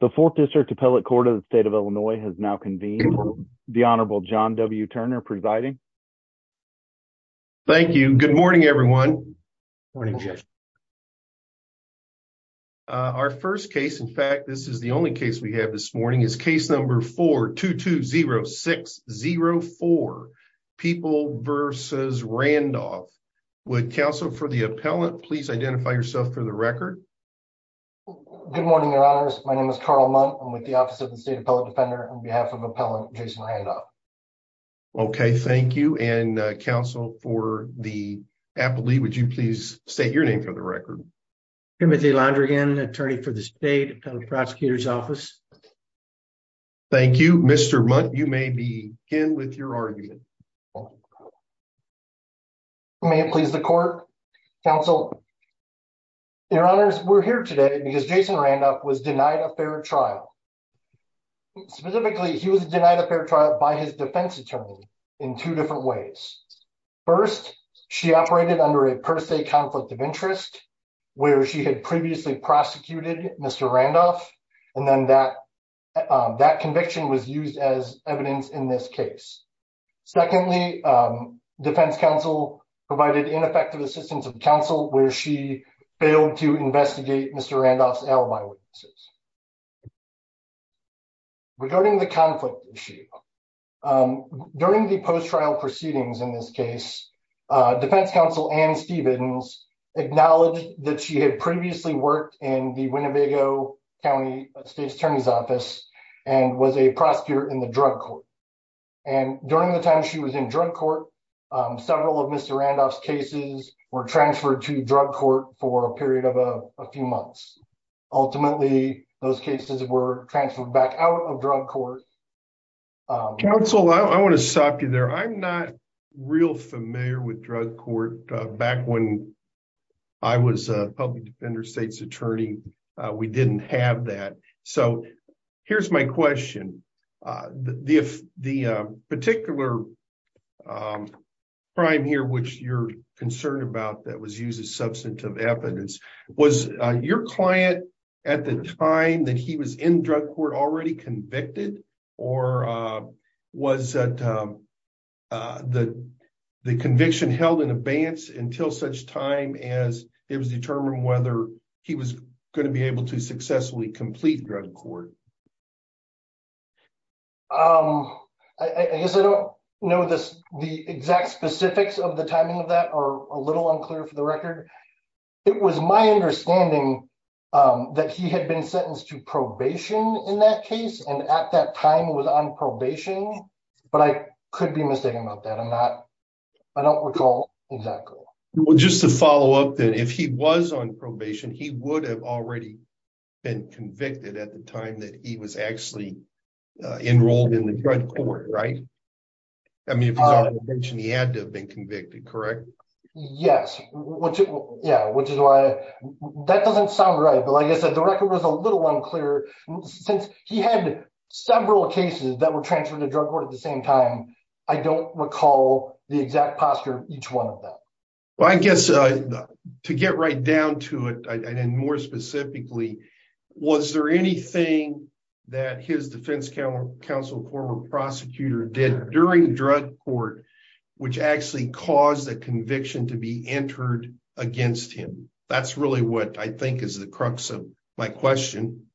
The fourth district appellate court of the state of Illinois has now convened. The Honorable John W. Turner presiding. Thank you. Good morning, everyone. Our first case, in fact, this is the only case we have this morning, is case number 4-2-2-0-6-0-4, People v. Randolph. Would counsel for the appellant please identify yourself for the record? Good morning, Your Honors. My name is Carl Mundt. I'm with the Office of the State Appellate Defender on behalf of Appellant Jason Randolph. Okay, thank you. And counsel for the appellate, would you please state your name for the record? Timothy Londrigan, attorney for the State Appellate Prosecutor's Office. Thank you. Mr. Mundt, you may begin with your argument. May it please the court. Counsel, Your Honors, we're here today because Jason Randolph was denied a fair trial. Specifically, he was denied a fair trial by his defense attorney in two different ways. First, she operated under a per se conflict of interest, where she had previously prosecuted Mr. Randolph, and then that conviction was used as evidence in this case. Secondly, defense counsel provided ineffective assistance of counsel where she failed to investigate Mr. Randolph's alibi witnesses. Regarding the conflict issue, during the post-trial proceedings in this case, defense counsel Ann Stevens acknowledged that she had previously worked in the Winnebago County State Attorney's Office and was a prosecutor in the drug court. And during the time she was in drug court, several of Mr. Randolph's cases were transferred to drug court for a period of a few months. Ultimately, those cases were transferred back out of drug court. Counsel, I want to stop you there. I'm not real familiar with drug court. Back when I was a public defender state's attorney, we didn't have that. So here's my question. The particular crime here which you're concerned about that was used as substantive evidence, was your client at the time that he was in drug court already convicted? Or was that the conviction held in abeyance until such time as it was determined whether he was going to be able to successfully complete drug court? I guess I don't know the exact specifics of the timing of that or a little unclear for the record. It was my understanding that he had been sentenced to could be mistaken about that. I'm not, I don't recall exactly. Well, just to follow up that if he was on probation, he would have already been convicted at the time that he was actually enrolled in the drug court, right? I mean, he had to have been convicted, correct? Yes. Yeah, which is why that doesn't sound right. But like I said, the record was a little unclear since he had several cases that were transferred to drug court at the same time. I don't recall the exact posture of each one of them. Well, I guess to get right down to it and more specifically, was there anything that his defense counsel, former prosecutor did during drug court, which actually caused the conviction to be entered against him? That's really what I question.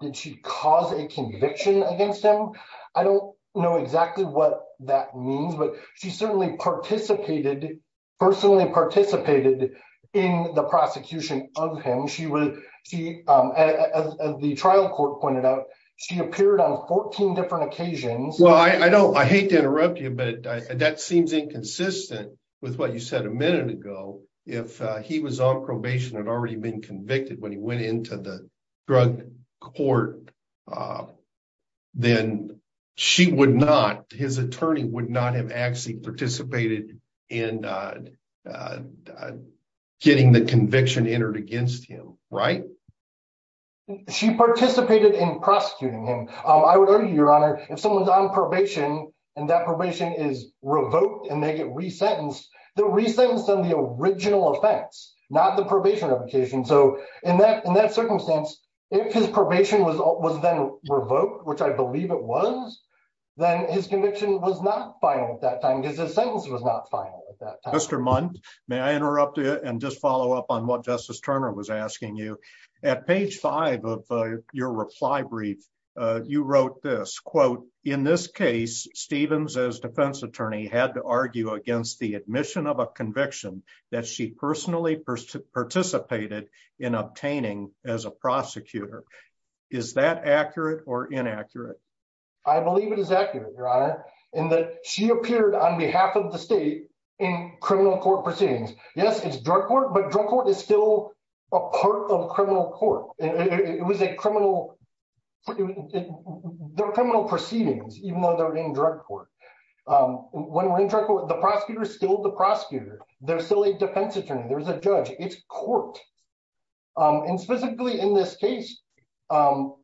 Did she cause a conviction against him? I don't know exactly what that means, but she certainly participated, personally participated in the prosecution of him. She as the trial court pointed out, she appeared on 14 different occasions. Well, I hate to interrupt you, but that seems inconsistent with what you said a minute ago. If he was on probation, had already been convicted when he went into the drug court, then she would not, his attorney would not have actually participated in getting the conviction entered against him, right? She participated in prosecuting him. I would argue, your honor, if someone's on probation and that probation is revoked and they get resentenced, they're resentenced on the original offense, not the probation application. So in that circumstance, if his probation was then revoked, which I believe it was, then his conviction was not final at that time because his sentence was not final at that time. Mr. Mundt, may I interrupt you and just follow up on what Justice Turner was asking you. At page five of your reply brief, you wrote this, quote, in this case, Stevens as defense attorney had to argue against the admission of a conviction that she personally participated in obtaining as a prosecutor. Is that accurate or inaccurate? I believe it is accurate, your honor, in that she appeared on behalf of the state in criminal court proceedings. Yes, it's drug court, but drug court is still a part of criminal court. It was a criminal, they're criminal proceedings, even though they're defense attorney, there's a judge, it's court. And specifically in this case, the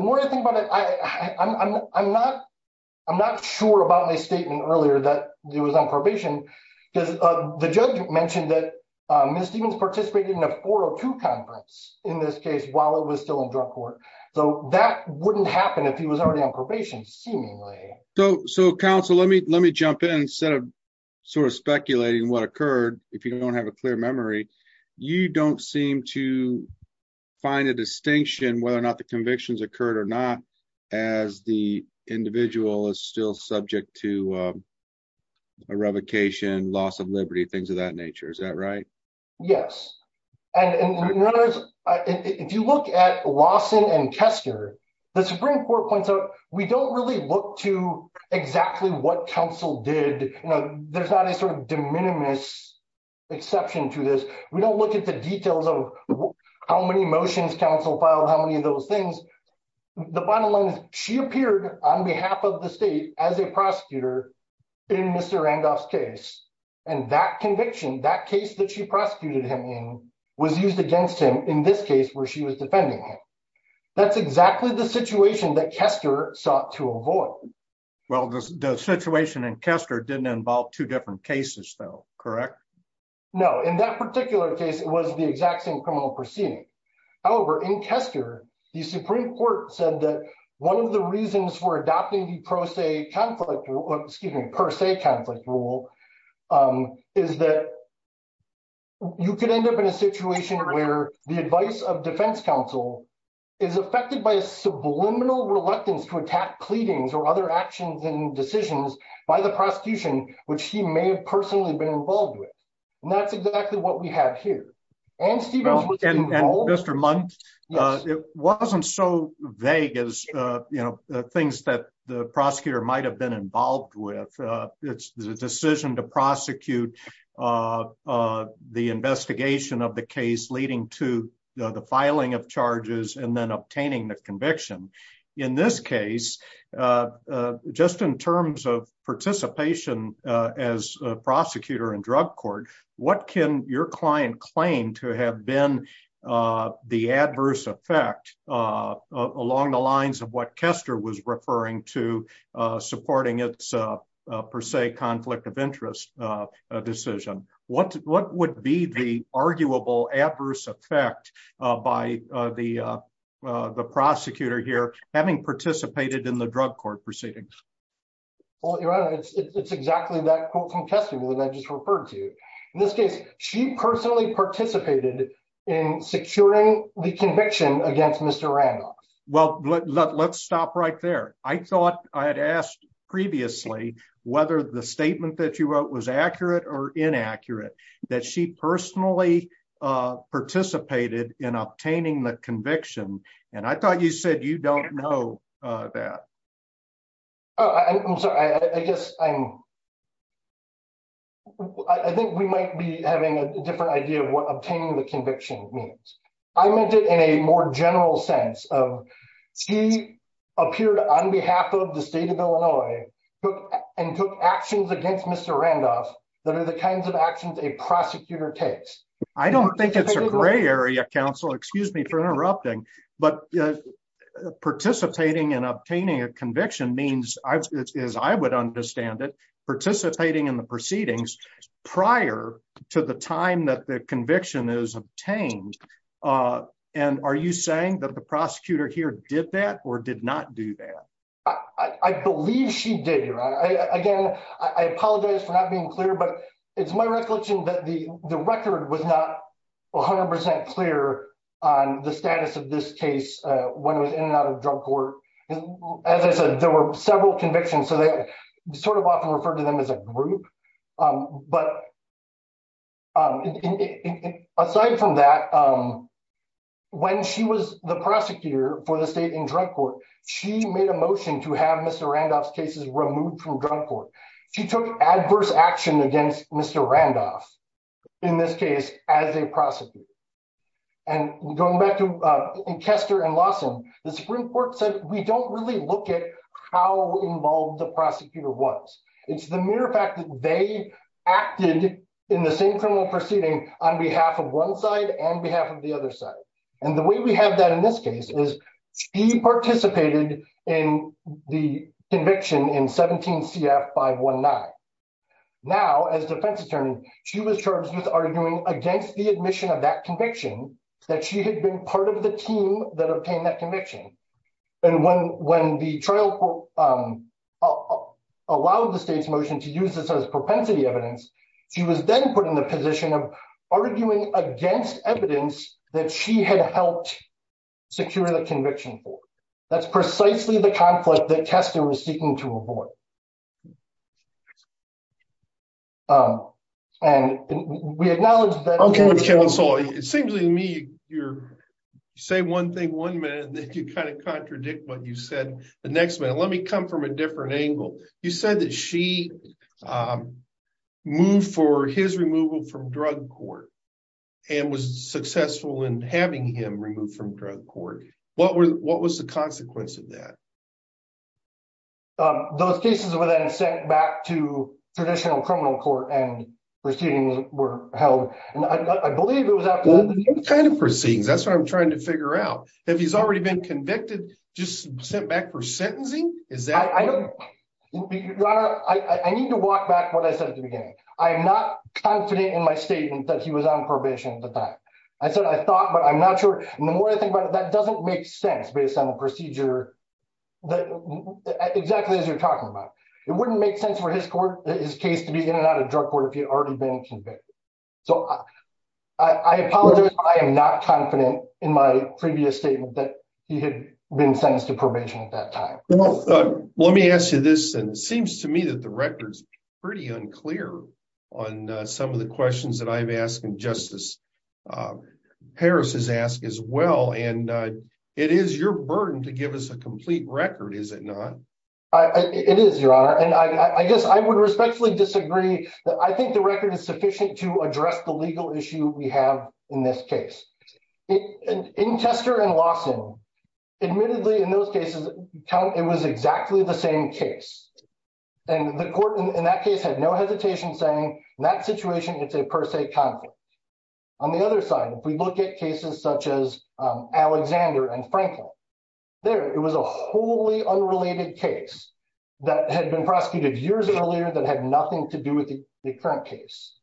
more I think about it, I'm not sure about my statement earlier that it was on probation because the judge mentioned that Ms. Stevens participated in a 402 conference in this case while it was still in drug court. So that wouldn't happen if he was already on probation, seemingly. So counsel, let me, let me jump in instead of sort of speculating what occurred. If you don't have a clear memory, you don't seem to find a distinction whether or not the convictions occurred or not, as the individual is still subject to a revocation, loss of liberty, things of that nature. Is that right? Yes. And if you look at Lawson and Kester, the Supreme Court points out, we don't really look to exactly what counsel did. There's not a sort of de minimis exception to this. We don't look at the details of how many motions counsel filed, how many of those things. The bottom line is she appeared on behalf of the state as a prosecutor in Mr. Randolph's case. And that conviction, that case that she prosecuted him in was used against him in this case where she was defending him. That's exactly the situation that Kester sought to avoid. Well, the situation in Kester didn't involve two different cases though, correct? No, in that particular case, it was the exact same criminal proceeding. However, in Kester, the Supreme Court said that one of the reasons for adopting the pro se conflict, excuse me, pro se conflict rule is that you could end up in a situation where the advice of defense counsel is affected by a subliminal reluctance to attack pleadings or other actions and decisions by the prosecution, which he may have personally been involved with. And that's exactly what we have here. And Stephen- And Mr. Muntz, it wasn't so vague as, you know, the things that the decision to prosecute the investigation of the case leading to the filing of charges and then obtaining the conviction. In this case, just in terms of participation as a prosecutor in drug court, what can your client claim to have been the adverse effect along the lines of what Kester was conflict of interest decision? What would be the arguable adverse effect by the prosecutor here having participated in the drug court proceedings? Well, it's exactly that quote from Kester that I just referred to. In this case, she personally participated in securing the conviction against Mr. Randolph. Well, let's stop right there. I thought I had asked previously whether the statement that you wrote was accurate or inaccurate, that she personally participated in obtaining the conviction. And I thought you said you don't know that. I'm sorry, I guess I'm I think we might be having a different idea of what obtaining the conviction means. I meant it in a more general sense of he appeared on behalf of the state of Illinois and took actions against Mr. Randolph that are the kinds of actions a prosecutor takes. I don't think it's a gray area, counsel, excuse me for interrupting, but participating in obtaining a conviction means, as I would understand it, participating in the proceedings prior to the time that the conviction is obtained. And are you saying that the prosecutor here did that or did not do that? I believe she did. Again, I apologize for not being clear, but it's my recollection that the record was not 100 percent clear on the status of this case when it was in and out of drug court. As I said, there were several convictions, so they sort of often referred to them as a group. But aside from that, when she was the prosecutor for the state in drug court, she made a motion to have Mr. Randolph's cases removed from drug court. She took adverse action against Mr. Randolph in this case as a prosecutor. And going back to Kester and Lawson, the Supreme Court said we don't really look at how involved the prosecutor was. It's the mere fact that they acted in the same criminal proceeding on behalf of one side and behalf of the other side. And the way we have that in this case is he participated in the conviction in 17 CF 519. Now, as defense attorney, she was charged with arguing against the admission of that conviction that she had been part of the team that obtained that conviction. And when the trial allowed the state's motion to use this as propensity evidence, she was then put in the position of arguing against evidence that she had helped secure the conviction for. That's precisely the conflict that Kester was seeking to avoid. And we acknowledge that... Okay, counsel, it seems to me you're saying one thing one minute and then you kind of contradict what you said the next minute. Let me come from a different angle. You said that she moved for his removal from drug court and was successful in having him removed from drug court. What was the consequence of that? Um, those cases were then sent back to traditional criminal court and proceedings were held. And I believe it was after... What kind of proceedings? That's what I'm trying to figure out. Have he's already been convicted, just sent back for sentencing? Is that... I don't... I need to walk back what I said at the beginning. I'm not confident in my statement that he was on probation at the time. I said, I thought, but I'm not sure. And the more I think about it, that doesn't make sense based on the procedure that exactly as you're talking about. It wouldn't make sense for his court, his case to be in and out of drug court if he had already been convicted. So I apologize. I am not confident in my previous statement that he had been sentenced to probation at that time. Well, let me ask you this. And it seems to me that the record's unclear on some of the questions that I've asked and Justice Harris has asked as well. And it is your burden to give us a complete record, is it not? It is, Your Honor. And I guess I would respectfully disagree. I think the record is sufficient to address the legal issue we have in this case. In Tester and Lawson, admittedly, in those cases, it was exactly the same case. And the court in that case had no hesitation saying, in that situation, it's a per se conflict. On the other side, if we look at cases such as Alexander and Franklin, there, it was a wholly unrelated case that had been prosecuted years earlier that had nothing to do with the current case.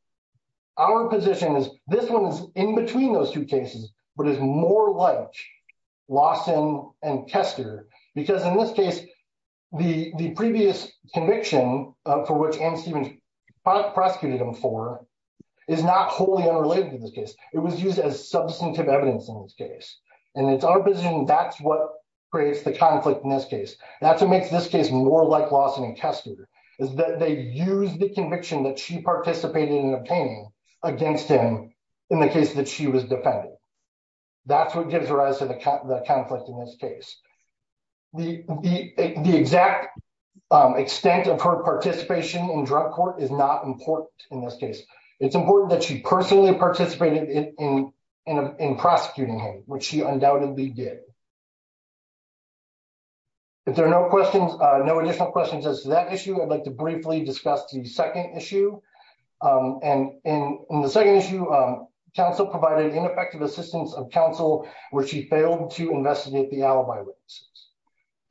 Our position is this one is in those two cases, but it's more like Lawson and Tester, because in this case, the previous conviction for which Anne Stevens prosecuted him for is not wholly unrelated to this case. It was used as substantive evidence in this case. And it's our position that's what creates the conflict in this case. That's what makes this case more like Lawson and Tester, is that they used the conviction that she participated in obtaining against him in the case that she was defending. That's what gives rise to the conflict in this case. The exact extent of her participation in drug court is not important in this case. It's important that she personally participated in prosecuting him, which she undoubtedly did. If there are no questions, no additional questions as to that issue, I'd like to briefly discuss the second issue. And in the second issue, counsel provided ineffective assistance of counsel where she failed to investigate the alibi witnesses.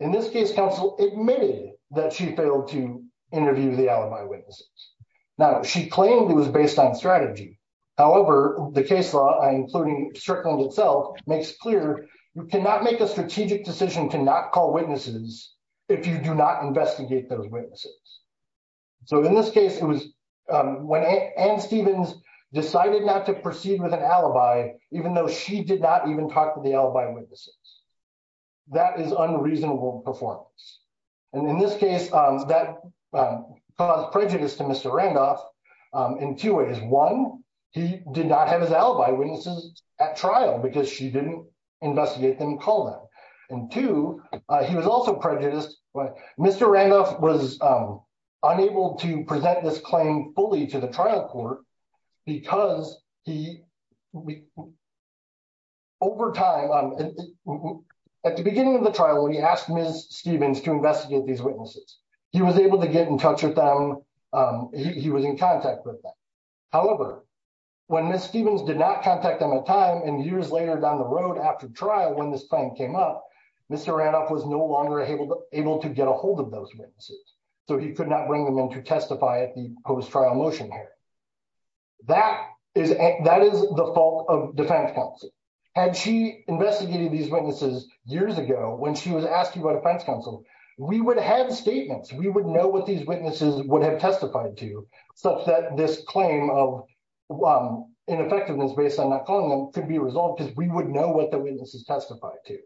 In this case, counsel admitted that she failed to interview the alibi witnesses. Now, she claimed it was based on strategy. However, the case law, including Strickland itself, makes clear you cannot make a strategic decision to not call witnesses if you do not investigate those witnesses. So in this case, it was when Anne Stevens decided not to proceed with an alibi, even though she did not even talk to the alibi witnesses. That is unreasonable performance. And in this case, that caused prejudice to Mr. Randolph in two ways. One, he did not have his alibi witnesses at trial because she didn't investigate them and call them. And two, he was also prejudiced. Mr. Randolph was unable to present this claim fully to the trial court because he, over time, at the beginning of the trial, he asked Ms. Stevens to contact them. However, when Ms. Stevens did not contact them at time and years later down the road after trial, when this claim came up, Mr. Randolph was no longer able to get a hold of those witnesses. So he could not bring them in to testify at the post-trial motion hearing. That is the fault of defense counsel. Had she investigated these witnesses years ago, when she was asking about defense counsel, we would have statements. We would know what these witnesses would have testified to such that this claim of ineffectiveness based on not calling them could be resolved because we would know what the witnesses testified to.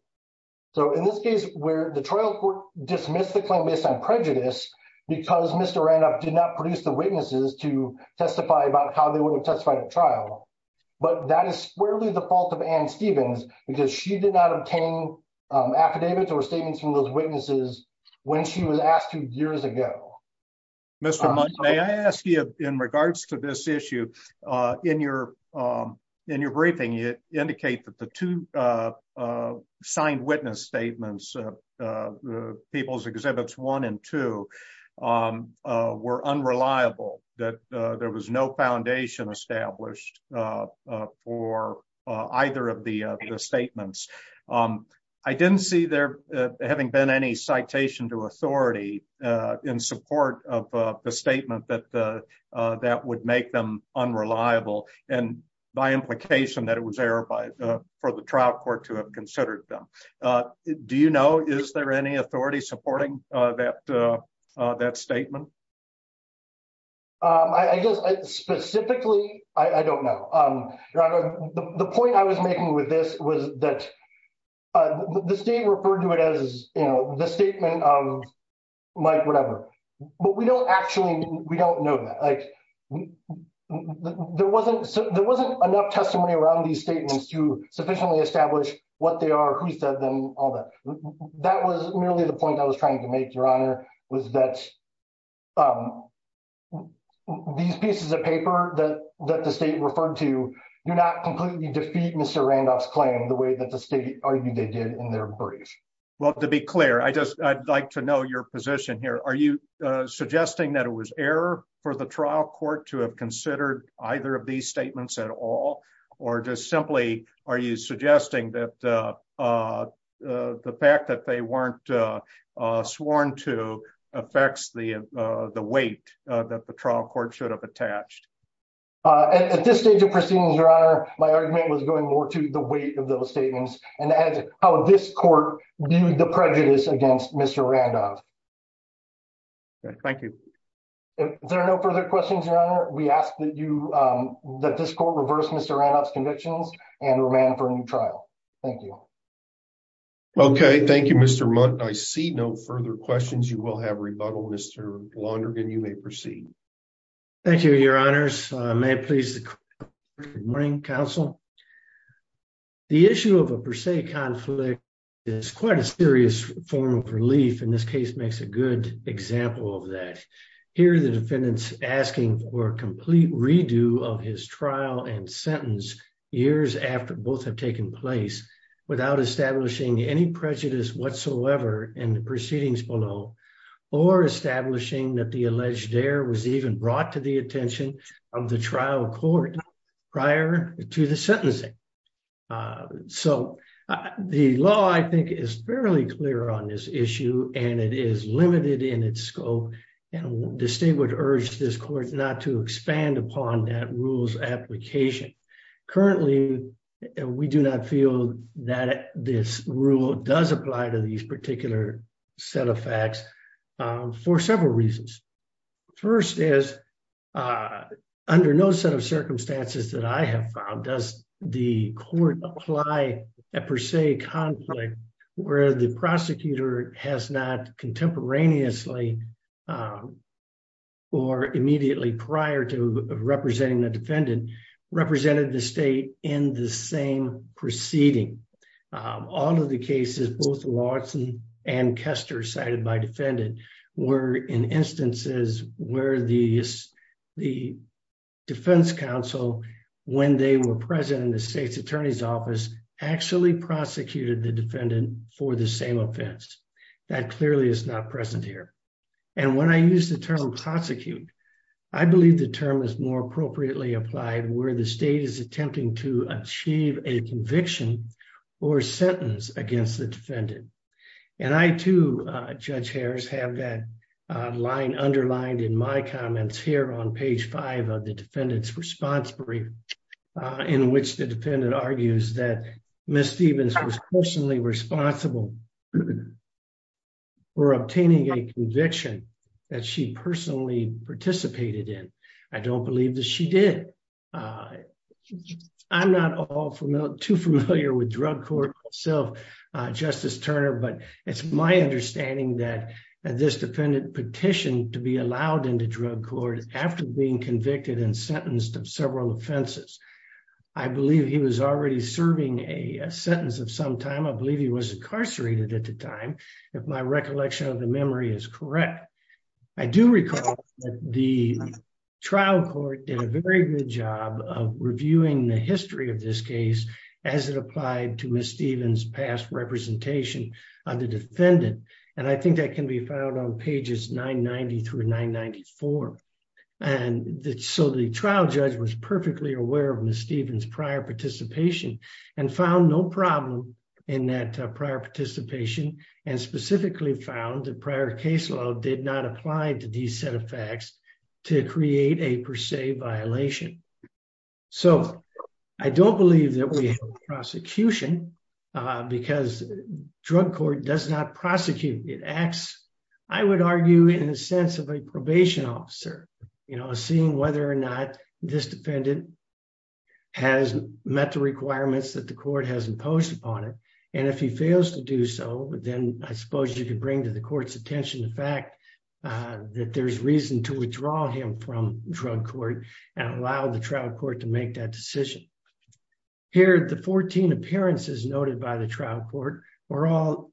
So in this case where the trial court dismissed the claim based on prejudice because Mr. Randolph did not produce the witnesses to testify about how they would have testified at trial. But that is squarely the fault of Anne or statements from those witnesses when she was asked two years ago. Mr. Munch, may I ask you in regards to this issue, in your briefing, you indicate that the two signed witness statements, People's Exhibits 1 and 2, were unreliable. That there was no having been any citation to authority in support of the statement that would make them unreliable and by implication that it was error for the trial court to have considered them. Do you know, is there any authority supporting that statement? I guess specifically, I don't know. The point I was making with this was that the state referred to it as, you know, the statement of Mike, whatever. But we don't actually, we don't know that. Like there wasn't enough testimony around these statements to sufficiently establish what they are, who said them, all that. That was merely the point I was trying to make, your honor, was that these pieces of paper that the state referred to do not completely defeat Mr. Randolph's claim the way that the state argued they did in their brief. Well, to be clear, I'd like to know your position here. Are you suggesting that it was error for the trial court to have considered either of these statements at all? Or just simply, are you suggesting that the fact that they weren't sworn to affects the weight that the trial court should have attached? At this stage of proceedings, your honor, my argument was going more to the weight of those statements and how this court viewed the prejudice against Mr. Randolph. Okay, thank you. If there are no further questions, your honor, we ask that you, that this court reverse Mr. Randolph's convictions and remand for a new trial. Thank you. Okay, thank you, Mr. Mundt. I see no further questions. You will have rebuttal, Mr. Lonergan. You may proceed. Thank you, your honors. May it please the court. Good morning, counsel. The issue of a per se conflict is quite a serious form of relief. And this case makes a good example of that. Here, the defendant's asking for a complete redo of his trial and sentence years after both have taken place without establishing any prejudice whatsoever in the alleged error was even brought to the attention of the trial court prior to the sentencing. So the law, I think, is fairly clear on this issue and it is limited in its scope. And the state would urge this court not to expand upon that rule's application. Currently, we do not feel that this rule does apply to these particular set of facts for several reasons. First is, under no set of circumstances that I have found, does the court apply a per se conflict where the prosecutor has not contemporaneously or immediately prior to representing the defendant represented the state in the same proceeding. All of the cases, both Watson and Kester cited by defendant, were in instances where the defense counsel, when they were present in the state's attorney's office, actually prosecuted the defendant for the same offense. That clearly is not present here. And when I use the term prosecute, I believe the term is more appropriately applied where the state is attempting to achieve a conviction or sentence against the defendant. And I too, Judge Harris, have that line underlined in my comments here on page five of the defendant's response brief, in which the defendant argues that Ms. Stevens was personally responsible for obtaining a conviction that she personally participated in. I don't believe that she did. I'm not too familiar with drug court itself, Justice Turner, but it's my understanding that this defendant petitioned to be allowed into drug court after being convicted and sentenced of several offenses. I believe he was already serving a sentence of some time. I believe he was incarcerated at the time, if my recollection of the memory is correct. I do recall that the very good job of reviewing the history of this case as it applied to Ms. Stevens' past representation of the defendant. And I think that can be found on pages 990 through 994. And so the trial judge was perfectly aware of Ms. Stevens' prior participation and found no problem in that prior participation, and specifically found the prior case law did not apply to these set of facts to create a per se violation. So I don't believe that we have prosecution because drug court does not prosecute. It acts, I would argue, in the sense of a probation officer, you know, seeing whether or not this defendant has met the requirements that the court has imposed upon it. And if he fails to do so, then I suppose you could bring to the that there's reason to withdraw him from drug court and allow the trial court to make that decision. Here, the 14 appearances noted by the trial court were all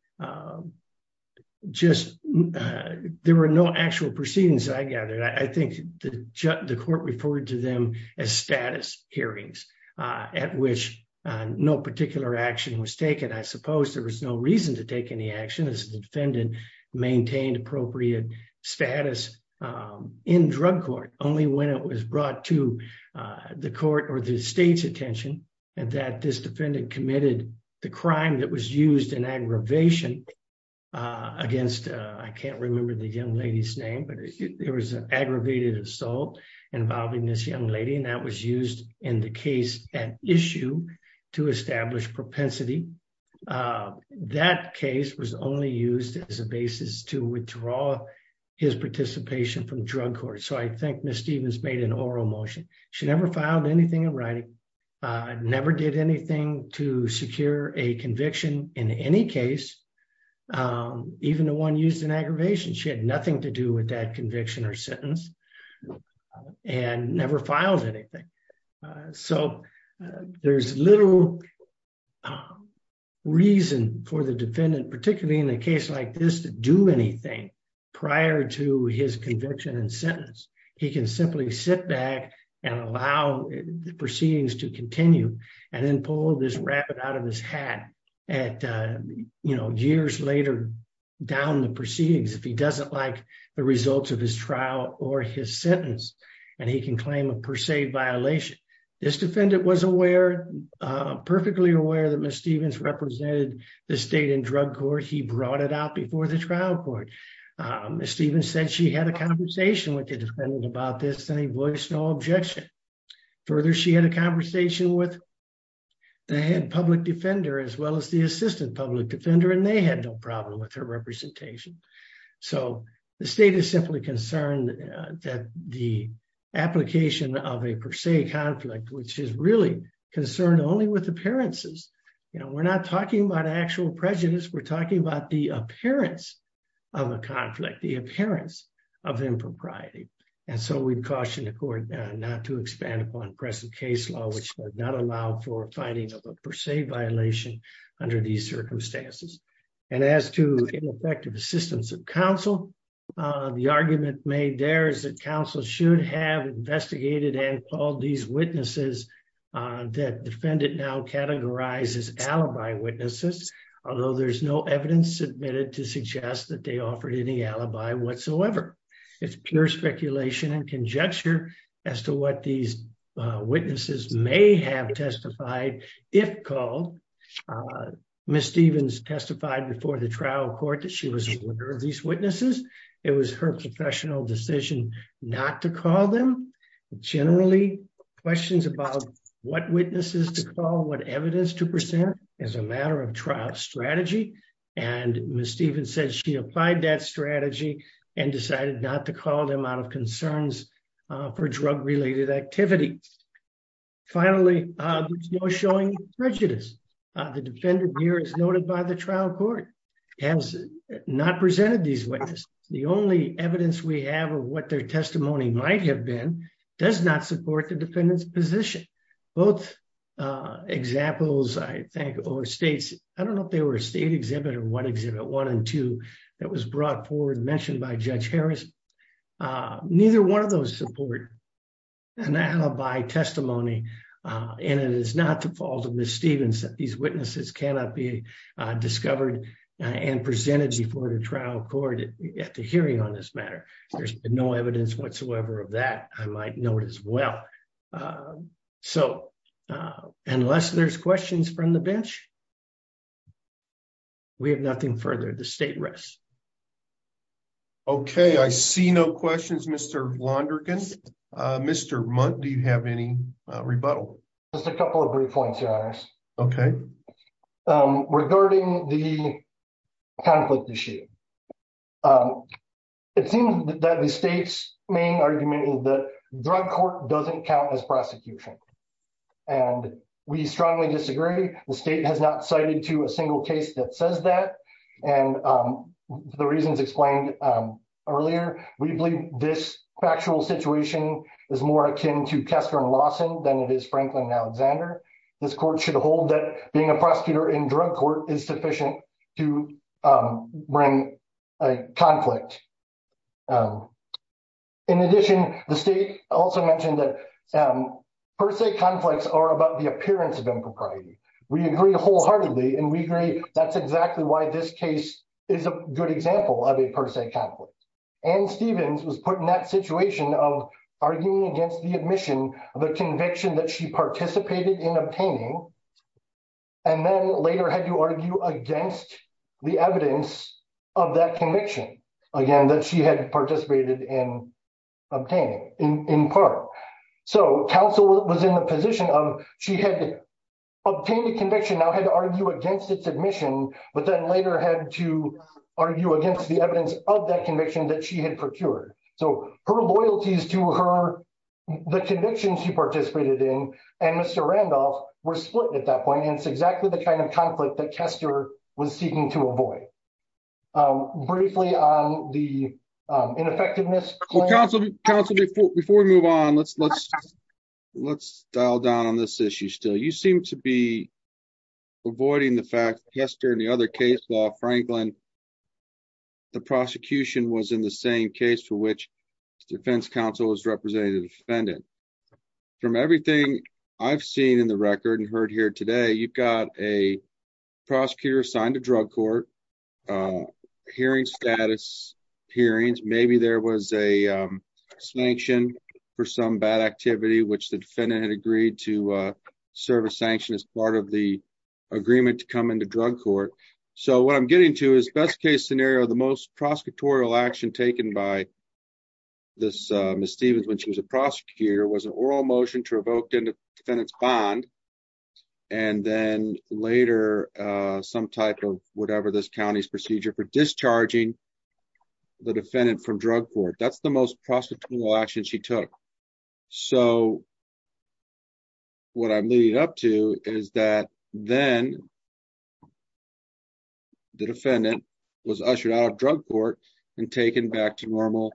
just, there were no actual proceedings, I gather. I think the court referred to them as status hearings, at which no particular action was taken. I suppose there was no reason to take any action as the defendant maintained appropriate status in drug court, only when it was brought to the court or the state's attention and that this defendant committed the crime that was used in aggravation against, I can't remember the young lady's name, but there was an aggravated assault involving this young lady and that was used in the case at issue to establish propensity. That case was only used as a basis to withdraw his participation from drug court, so I think Ms. Stevens made an oral motion. She never filed anything in writing, never did anything to secure a conviction in any case, even the one used in aggravation. She had nothing to do with that reason for the defendant, particularly in a case like this, to do anything prior to his conviction and sentence. He can simply sit back and allow the proceedings to continue and then pull this rabbit out of his hat at, you know, years later down the proceedings if he doesn't like the results of his trial or his sentence and he can claim a per se violation. This defendant was perfectly aware that Ms. Stevens represented the state in drug court. He brought it out before the trial court. Ms. Stevens said she had a conversation with the defendant about this and he voiced no objection. Further, she had a conversation with the head public defender as well as the assistant public defender and they had no problem with her representation. So the state is simply concerned that the application of a per se conflict, which is really concerned only with appearances, you know, we're not talking about actual prejudice, we're talking about the appearance of a conflict, the appearance of impropriety. And so we've cautioned the court not to expand upon present case law, which does not allow for findings of a per se violation under these that counsel should have investigated and called these witnesses that defendant now categorizes alibi witnesses, although there's no evidence submitted to suggest that they offered any alibi whatsoever. It's pure speculation and conjecture as to what these witnesses may have testified if called. Ms. Stevens testified before the trial court that she was aware of these witnesses. It was her professional decision not to call them. Generally, questions about what witnesses to call, what evidence to present is a matter of trial strategy. And Ms. Stevens said she applied that strategy and decided not to call them out of concerns for drug-related activities. Finally, there's no showing prejudice. The defendant here, as noted by the trial court, has not presented these witnesses. The only evidence we have of what their testimony might have been does not support the defendant's position. Both examples, I think, or states, I don't know if they were a state exhibit or one exhibit, one and two, that was brought forward mentioned by Judge Harris. Neither one of those support an alibi testimony. And it is not the and presented before the trial court at the hearing on this matter. There's no evidence whatsoever of that, I might note as well. So, unless there's questions from the bench, we have nothing further. The state rests. Okay, I see no questions, Mr. Londergan. Mr. Mundt, do you have any rebuttal? Just a couple of brief points, Your Honors. Okay. Regarding the conflict issue, it seems that the state's main argument is that drug court doesn't count as prosecution. And we strongly disagree. The state has not cited to a single case that says that. And the reasons explained earlier, we believe this factual situation is more akin to Kessler and Lawson than it is Franklin and Alexander. This court should hold that being a prosecutor in drug court is sufficient to bring a conflict. In addition, the state also mentioned that per se conflicts are about the appearance of impropriety. We agree wholeheartedly and we agree that's exactly why this case is a good example of a per se conflict. Ann Stevens was put in that situation of arguing against the admission of a conviction that she participated in obtaining and then later had to argue against the evidence of that conviction, again, that she had participated in obtaining, in part. So, counsel was in the position of she had obtained a conviction, now had to argue against its admission, but then later had to argue against the evidence of that conviction that she had procured. So, her loyalties to her, the convictions she participated in and Mr. Randolph were split at that point. And it's exactly the kind of conflict that Kessler was seeking to avoid. Briefly on the ineffectiveness- Counsel, before we move on, let's dial down on this issue still. You seem to be avoiding the fact that Kessler and the other case law, Franklin, the prosecution was in the same case for which the defense counsel was representing the defendant. From everything I've seen in the record and heard here today, you've got a prosecutor assigned to sanction for some bad activity, which the defendant had agreed to serve a sanction as part of the agreement to come into drug court. So, what I'm getting to is best case scenario, the most prosecutorial action taken by this Ms. Stevens when she was a prosecutor was an oral motion to revoke the defendant's bond and then later some type of whatever this county's procedure for discharging the defendant from drug court. That's the most prosecutorial action she took. So, what I'm leading up to is that then the defendant was ushered out of drug court and taken back to normal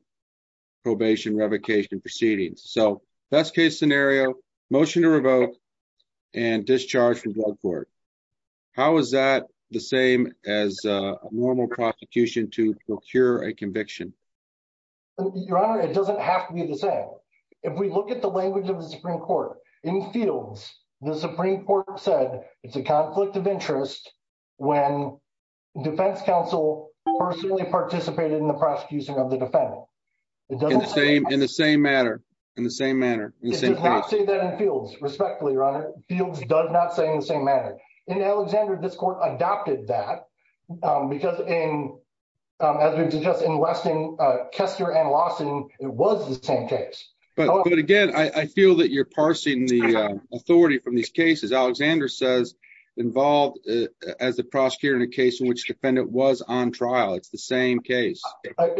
probation revocation proceedings. So, best case scenario, motion to revoke and discharge from drug court. How is that the same as a normal prosecution to procure a conviction? Your Honor, it doesn't have to be the same. If we look at the language of the Supreme Court, in fields, the Supreme Court said it's a conflict of interest when defense counsel personally participated in the prosecution of the defendant. In the same manner. In the same manner. It does not say that in fields, respectfully, Your Honor. Fields does not say in the same manner. In Alexander, this court adopted that because in, as we suggest in Weston, Kester and Lawson, it was the same case. But again, I feel that you're parsing the authority from these cases. Alexander says involved as the prosecutor in a case in which the defendant was on trial. It's the same case.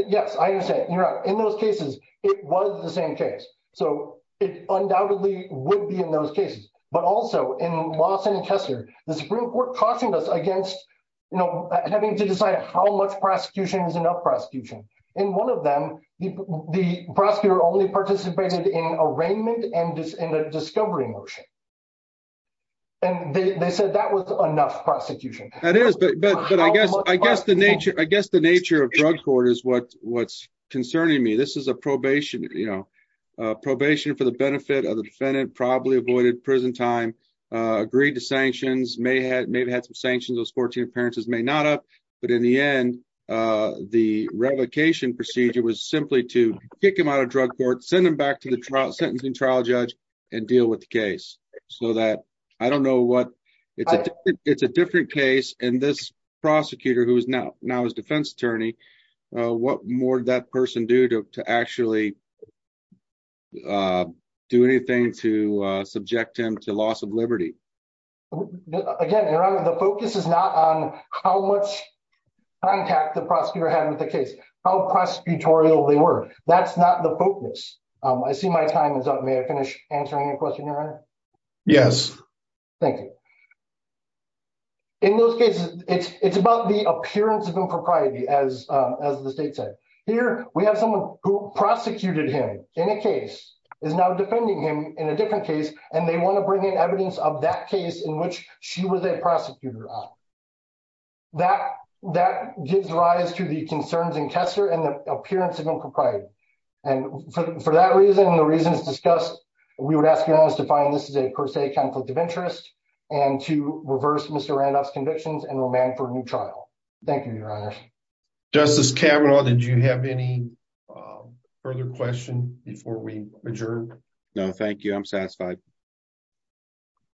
Yes, I understand. In those cases, it was the same case. So, it undoubtedly would be in those cases. But also in Lawson and Kester, the Supreme Court cautioned us against having to decide how much prosecution is enough prosecution. In one of them, the prosecutor only participated in arraignment and a discovery motion. And they said that was enough prosecution. That is. But I guess the nature of drug court is what's concerning me. This is a probation, you know, probation for the benefit of the defendant, probably avoided prison time, agreed to sanctions, may have had some sanctions, those 14 appearances may not have. But in the end, the revocation procedure was simply to kick him out of drug court, send him back to the trial sentencing trial judge and deal with the case so that I don't know what it's a different case. And this prosecutor who is now now is a defense attorney. What more that person do to actually do anything to subject him to loss of liberty? Again, the focus is not on how much contact the prosecutor had with the case, how prosecutorial they were. That's not the focus. I see my time is up. May I finish answering your question? Yes. Thank you. In those cases, it's about the appearance of impropriety, as the state said. Here we have someone who prosecuted him in a case is now defending him in a different case, and they want to bring in evidence of that case in which she was a prosecutor. That that gives rise to the concerns in Kessler and the appearance of impropriety. And for that and the reasons discussed, we would ask you to find this is a per se conflict of interest and to reverse Mr. Randolph's convictions and remand for a new trial. Thank you, Your Honor. Justice Kavanaugh, did you have any further question before we adjourn? No, thank you. I'm satisfied.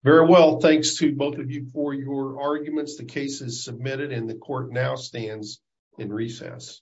Very well. Thanks to both of you for your arguments. The case is submitted and the court now stands in recess.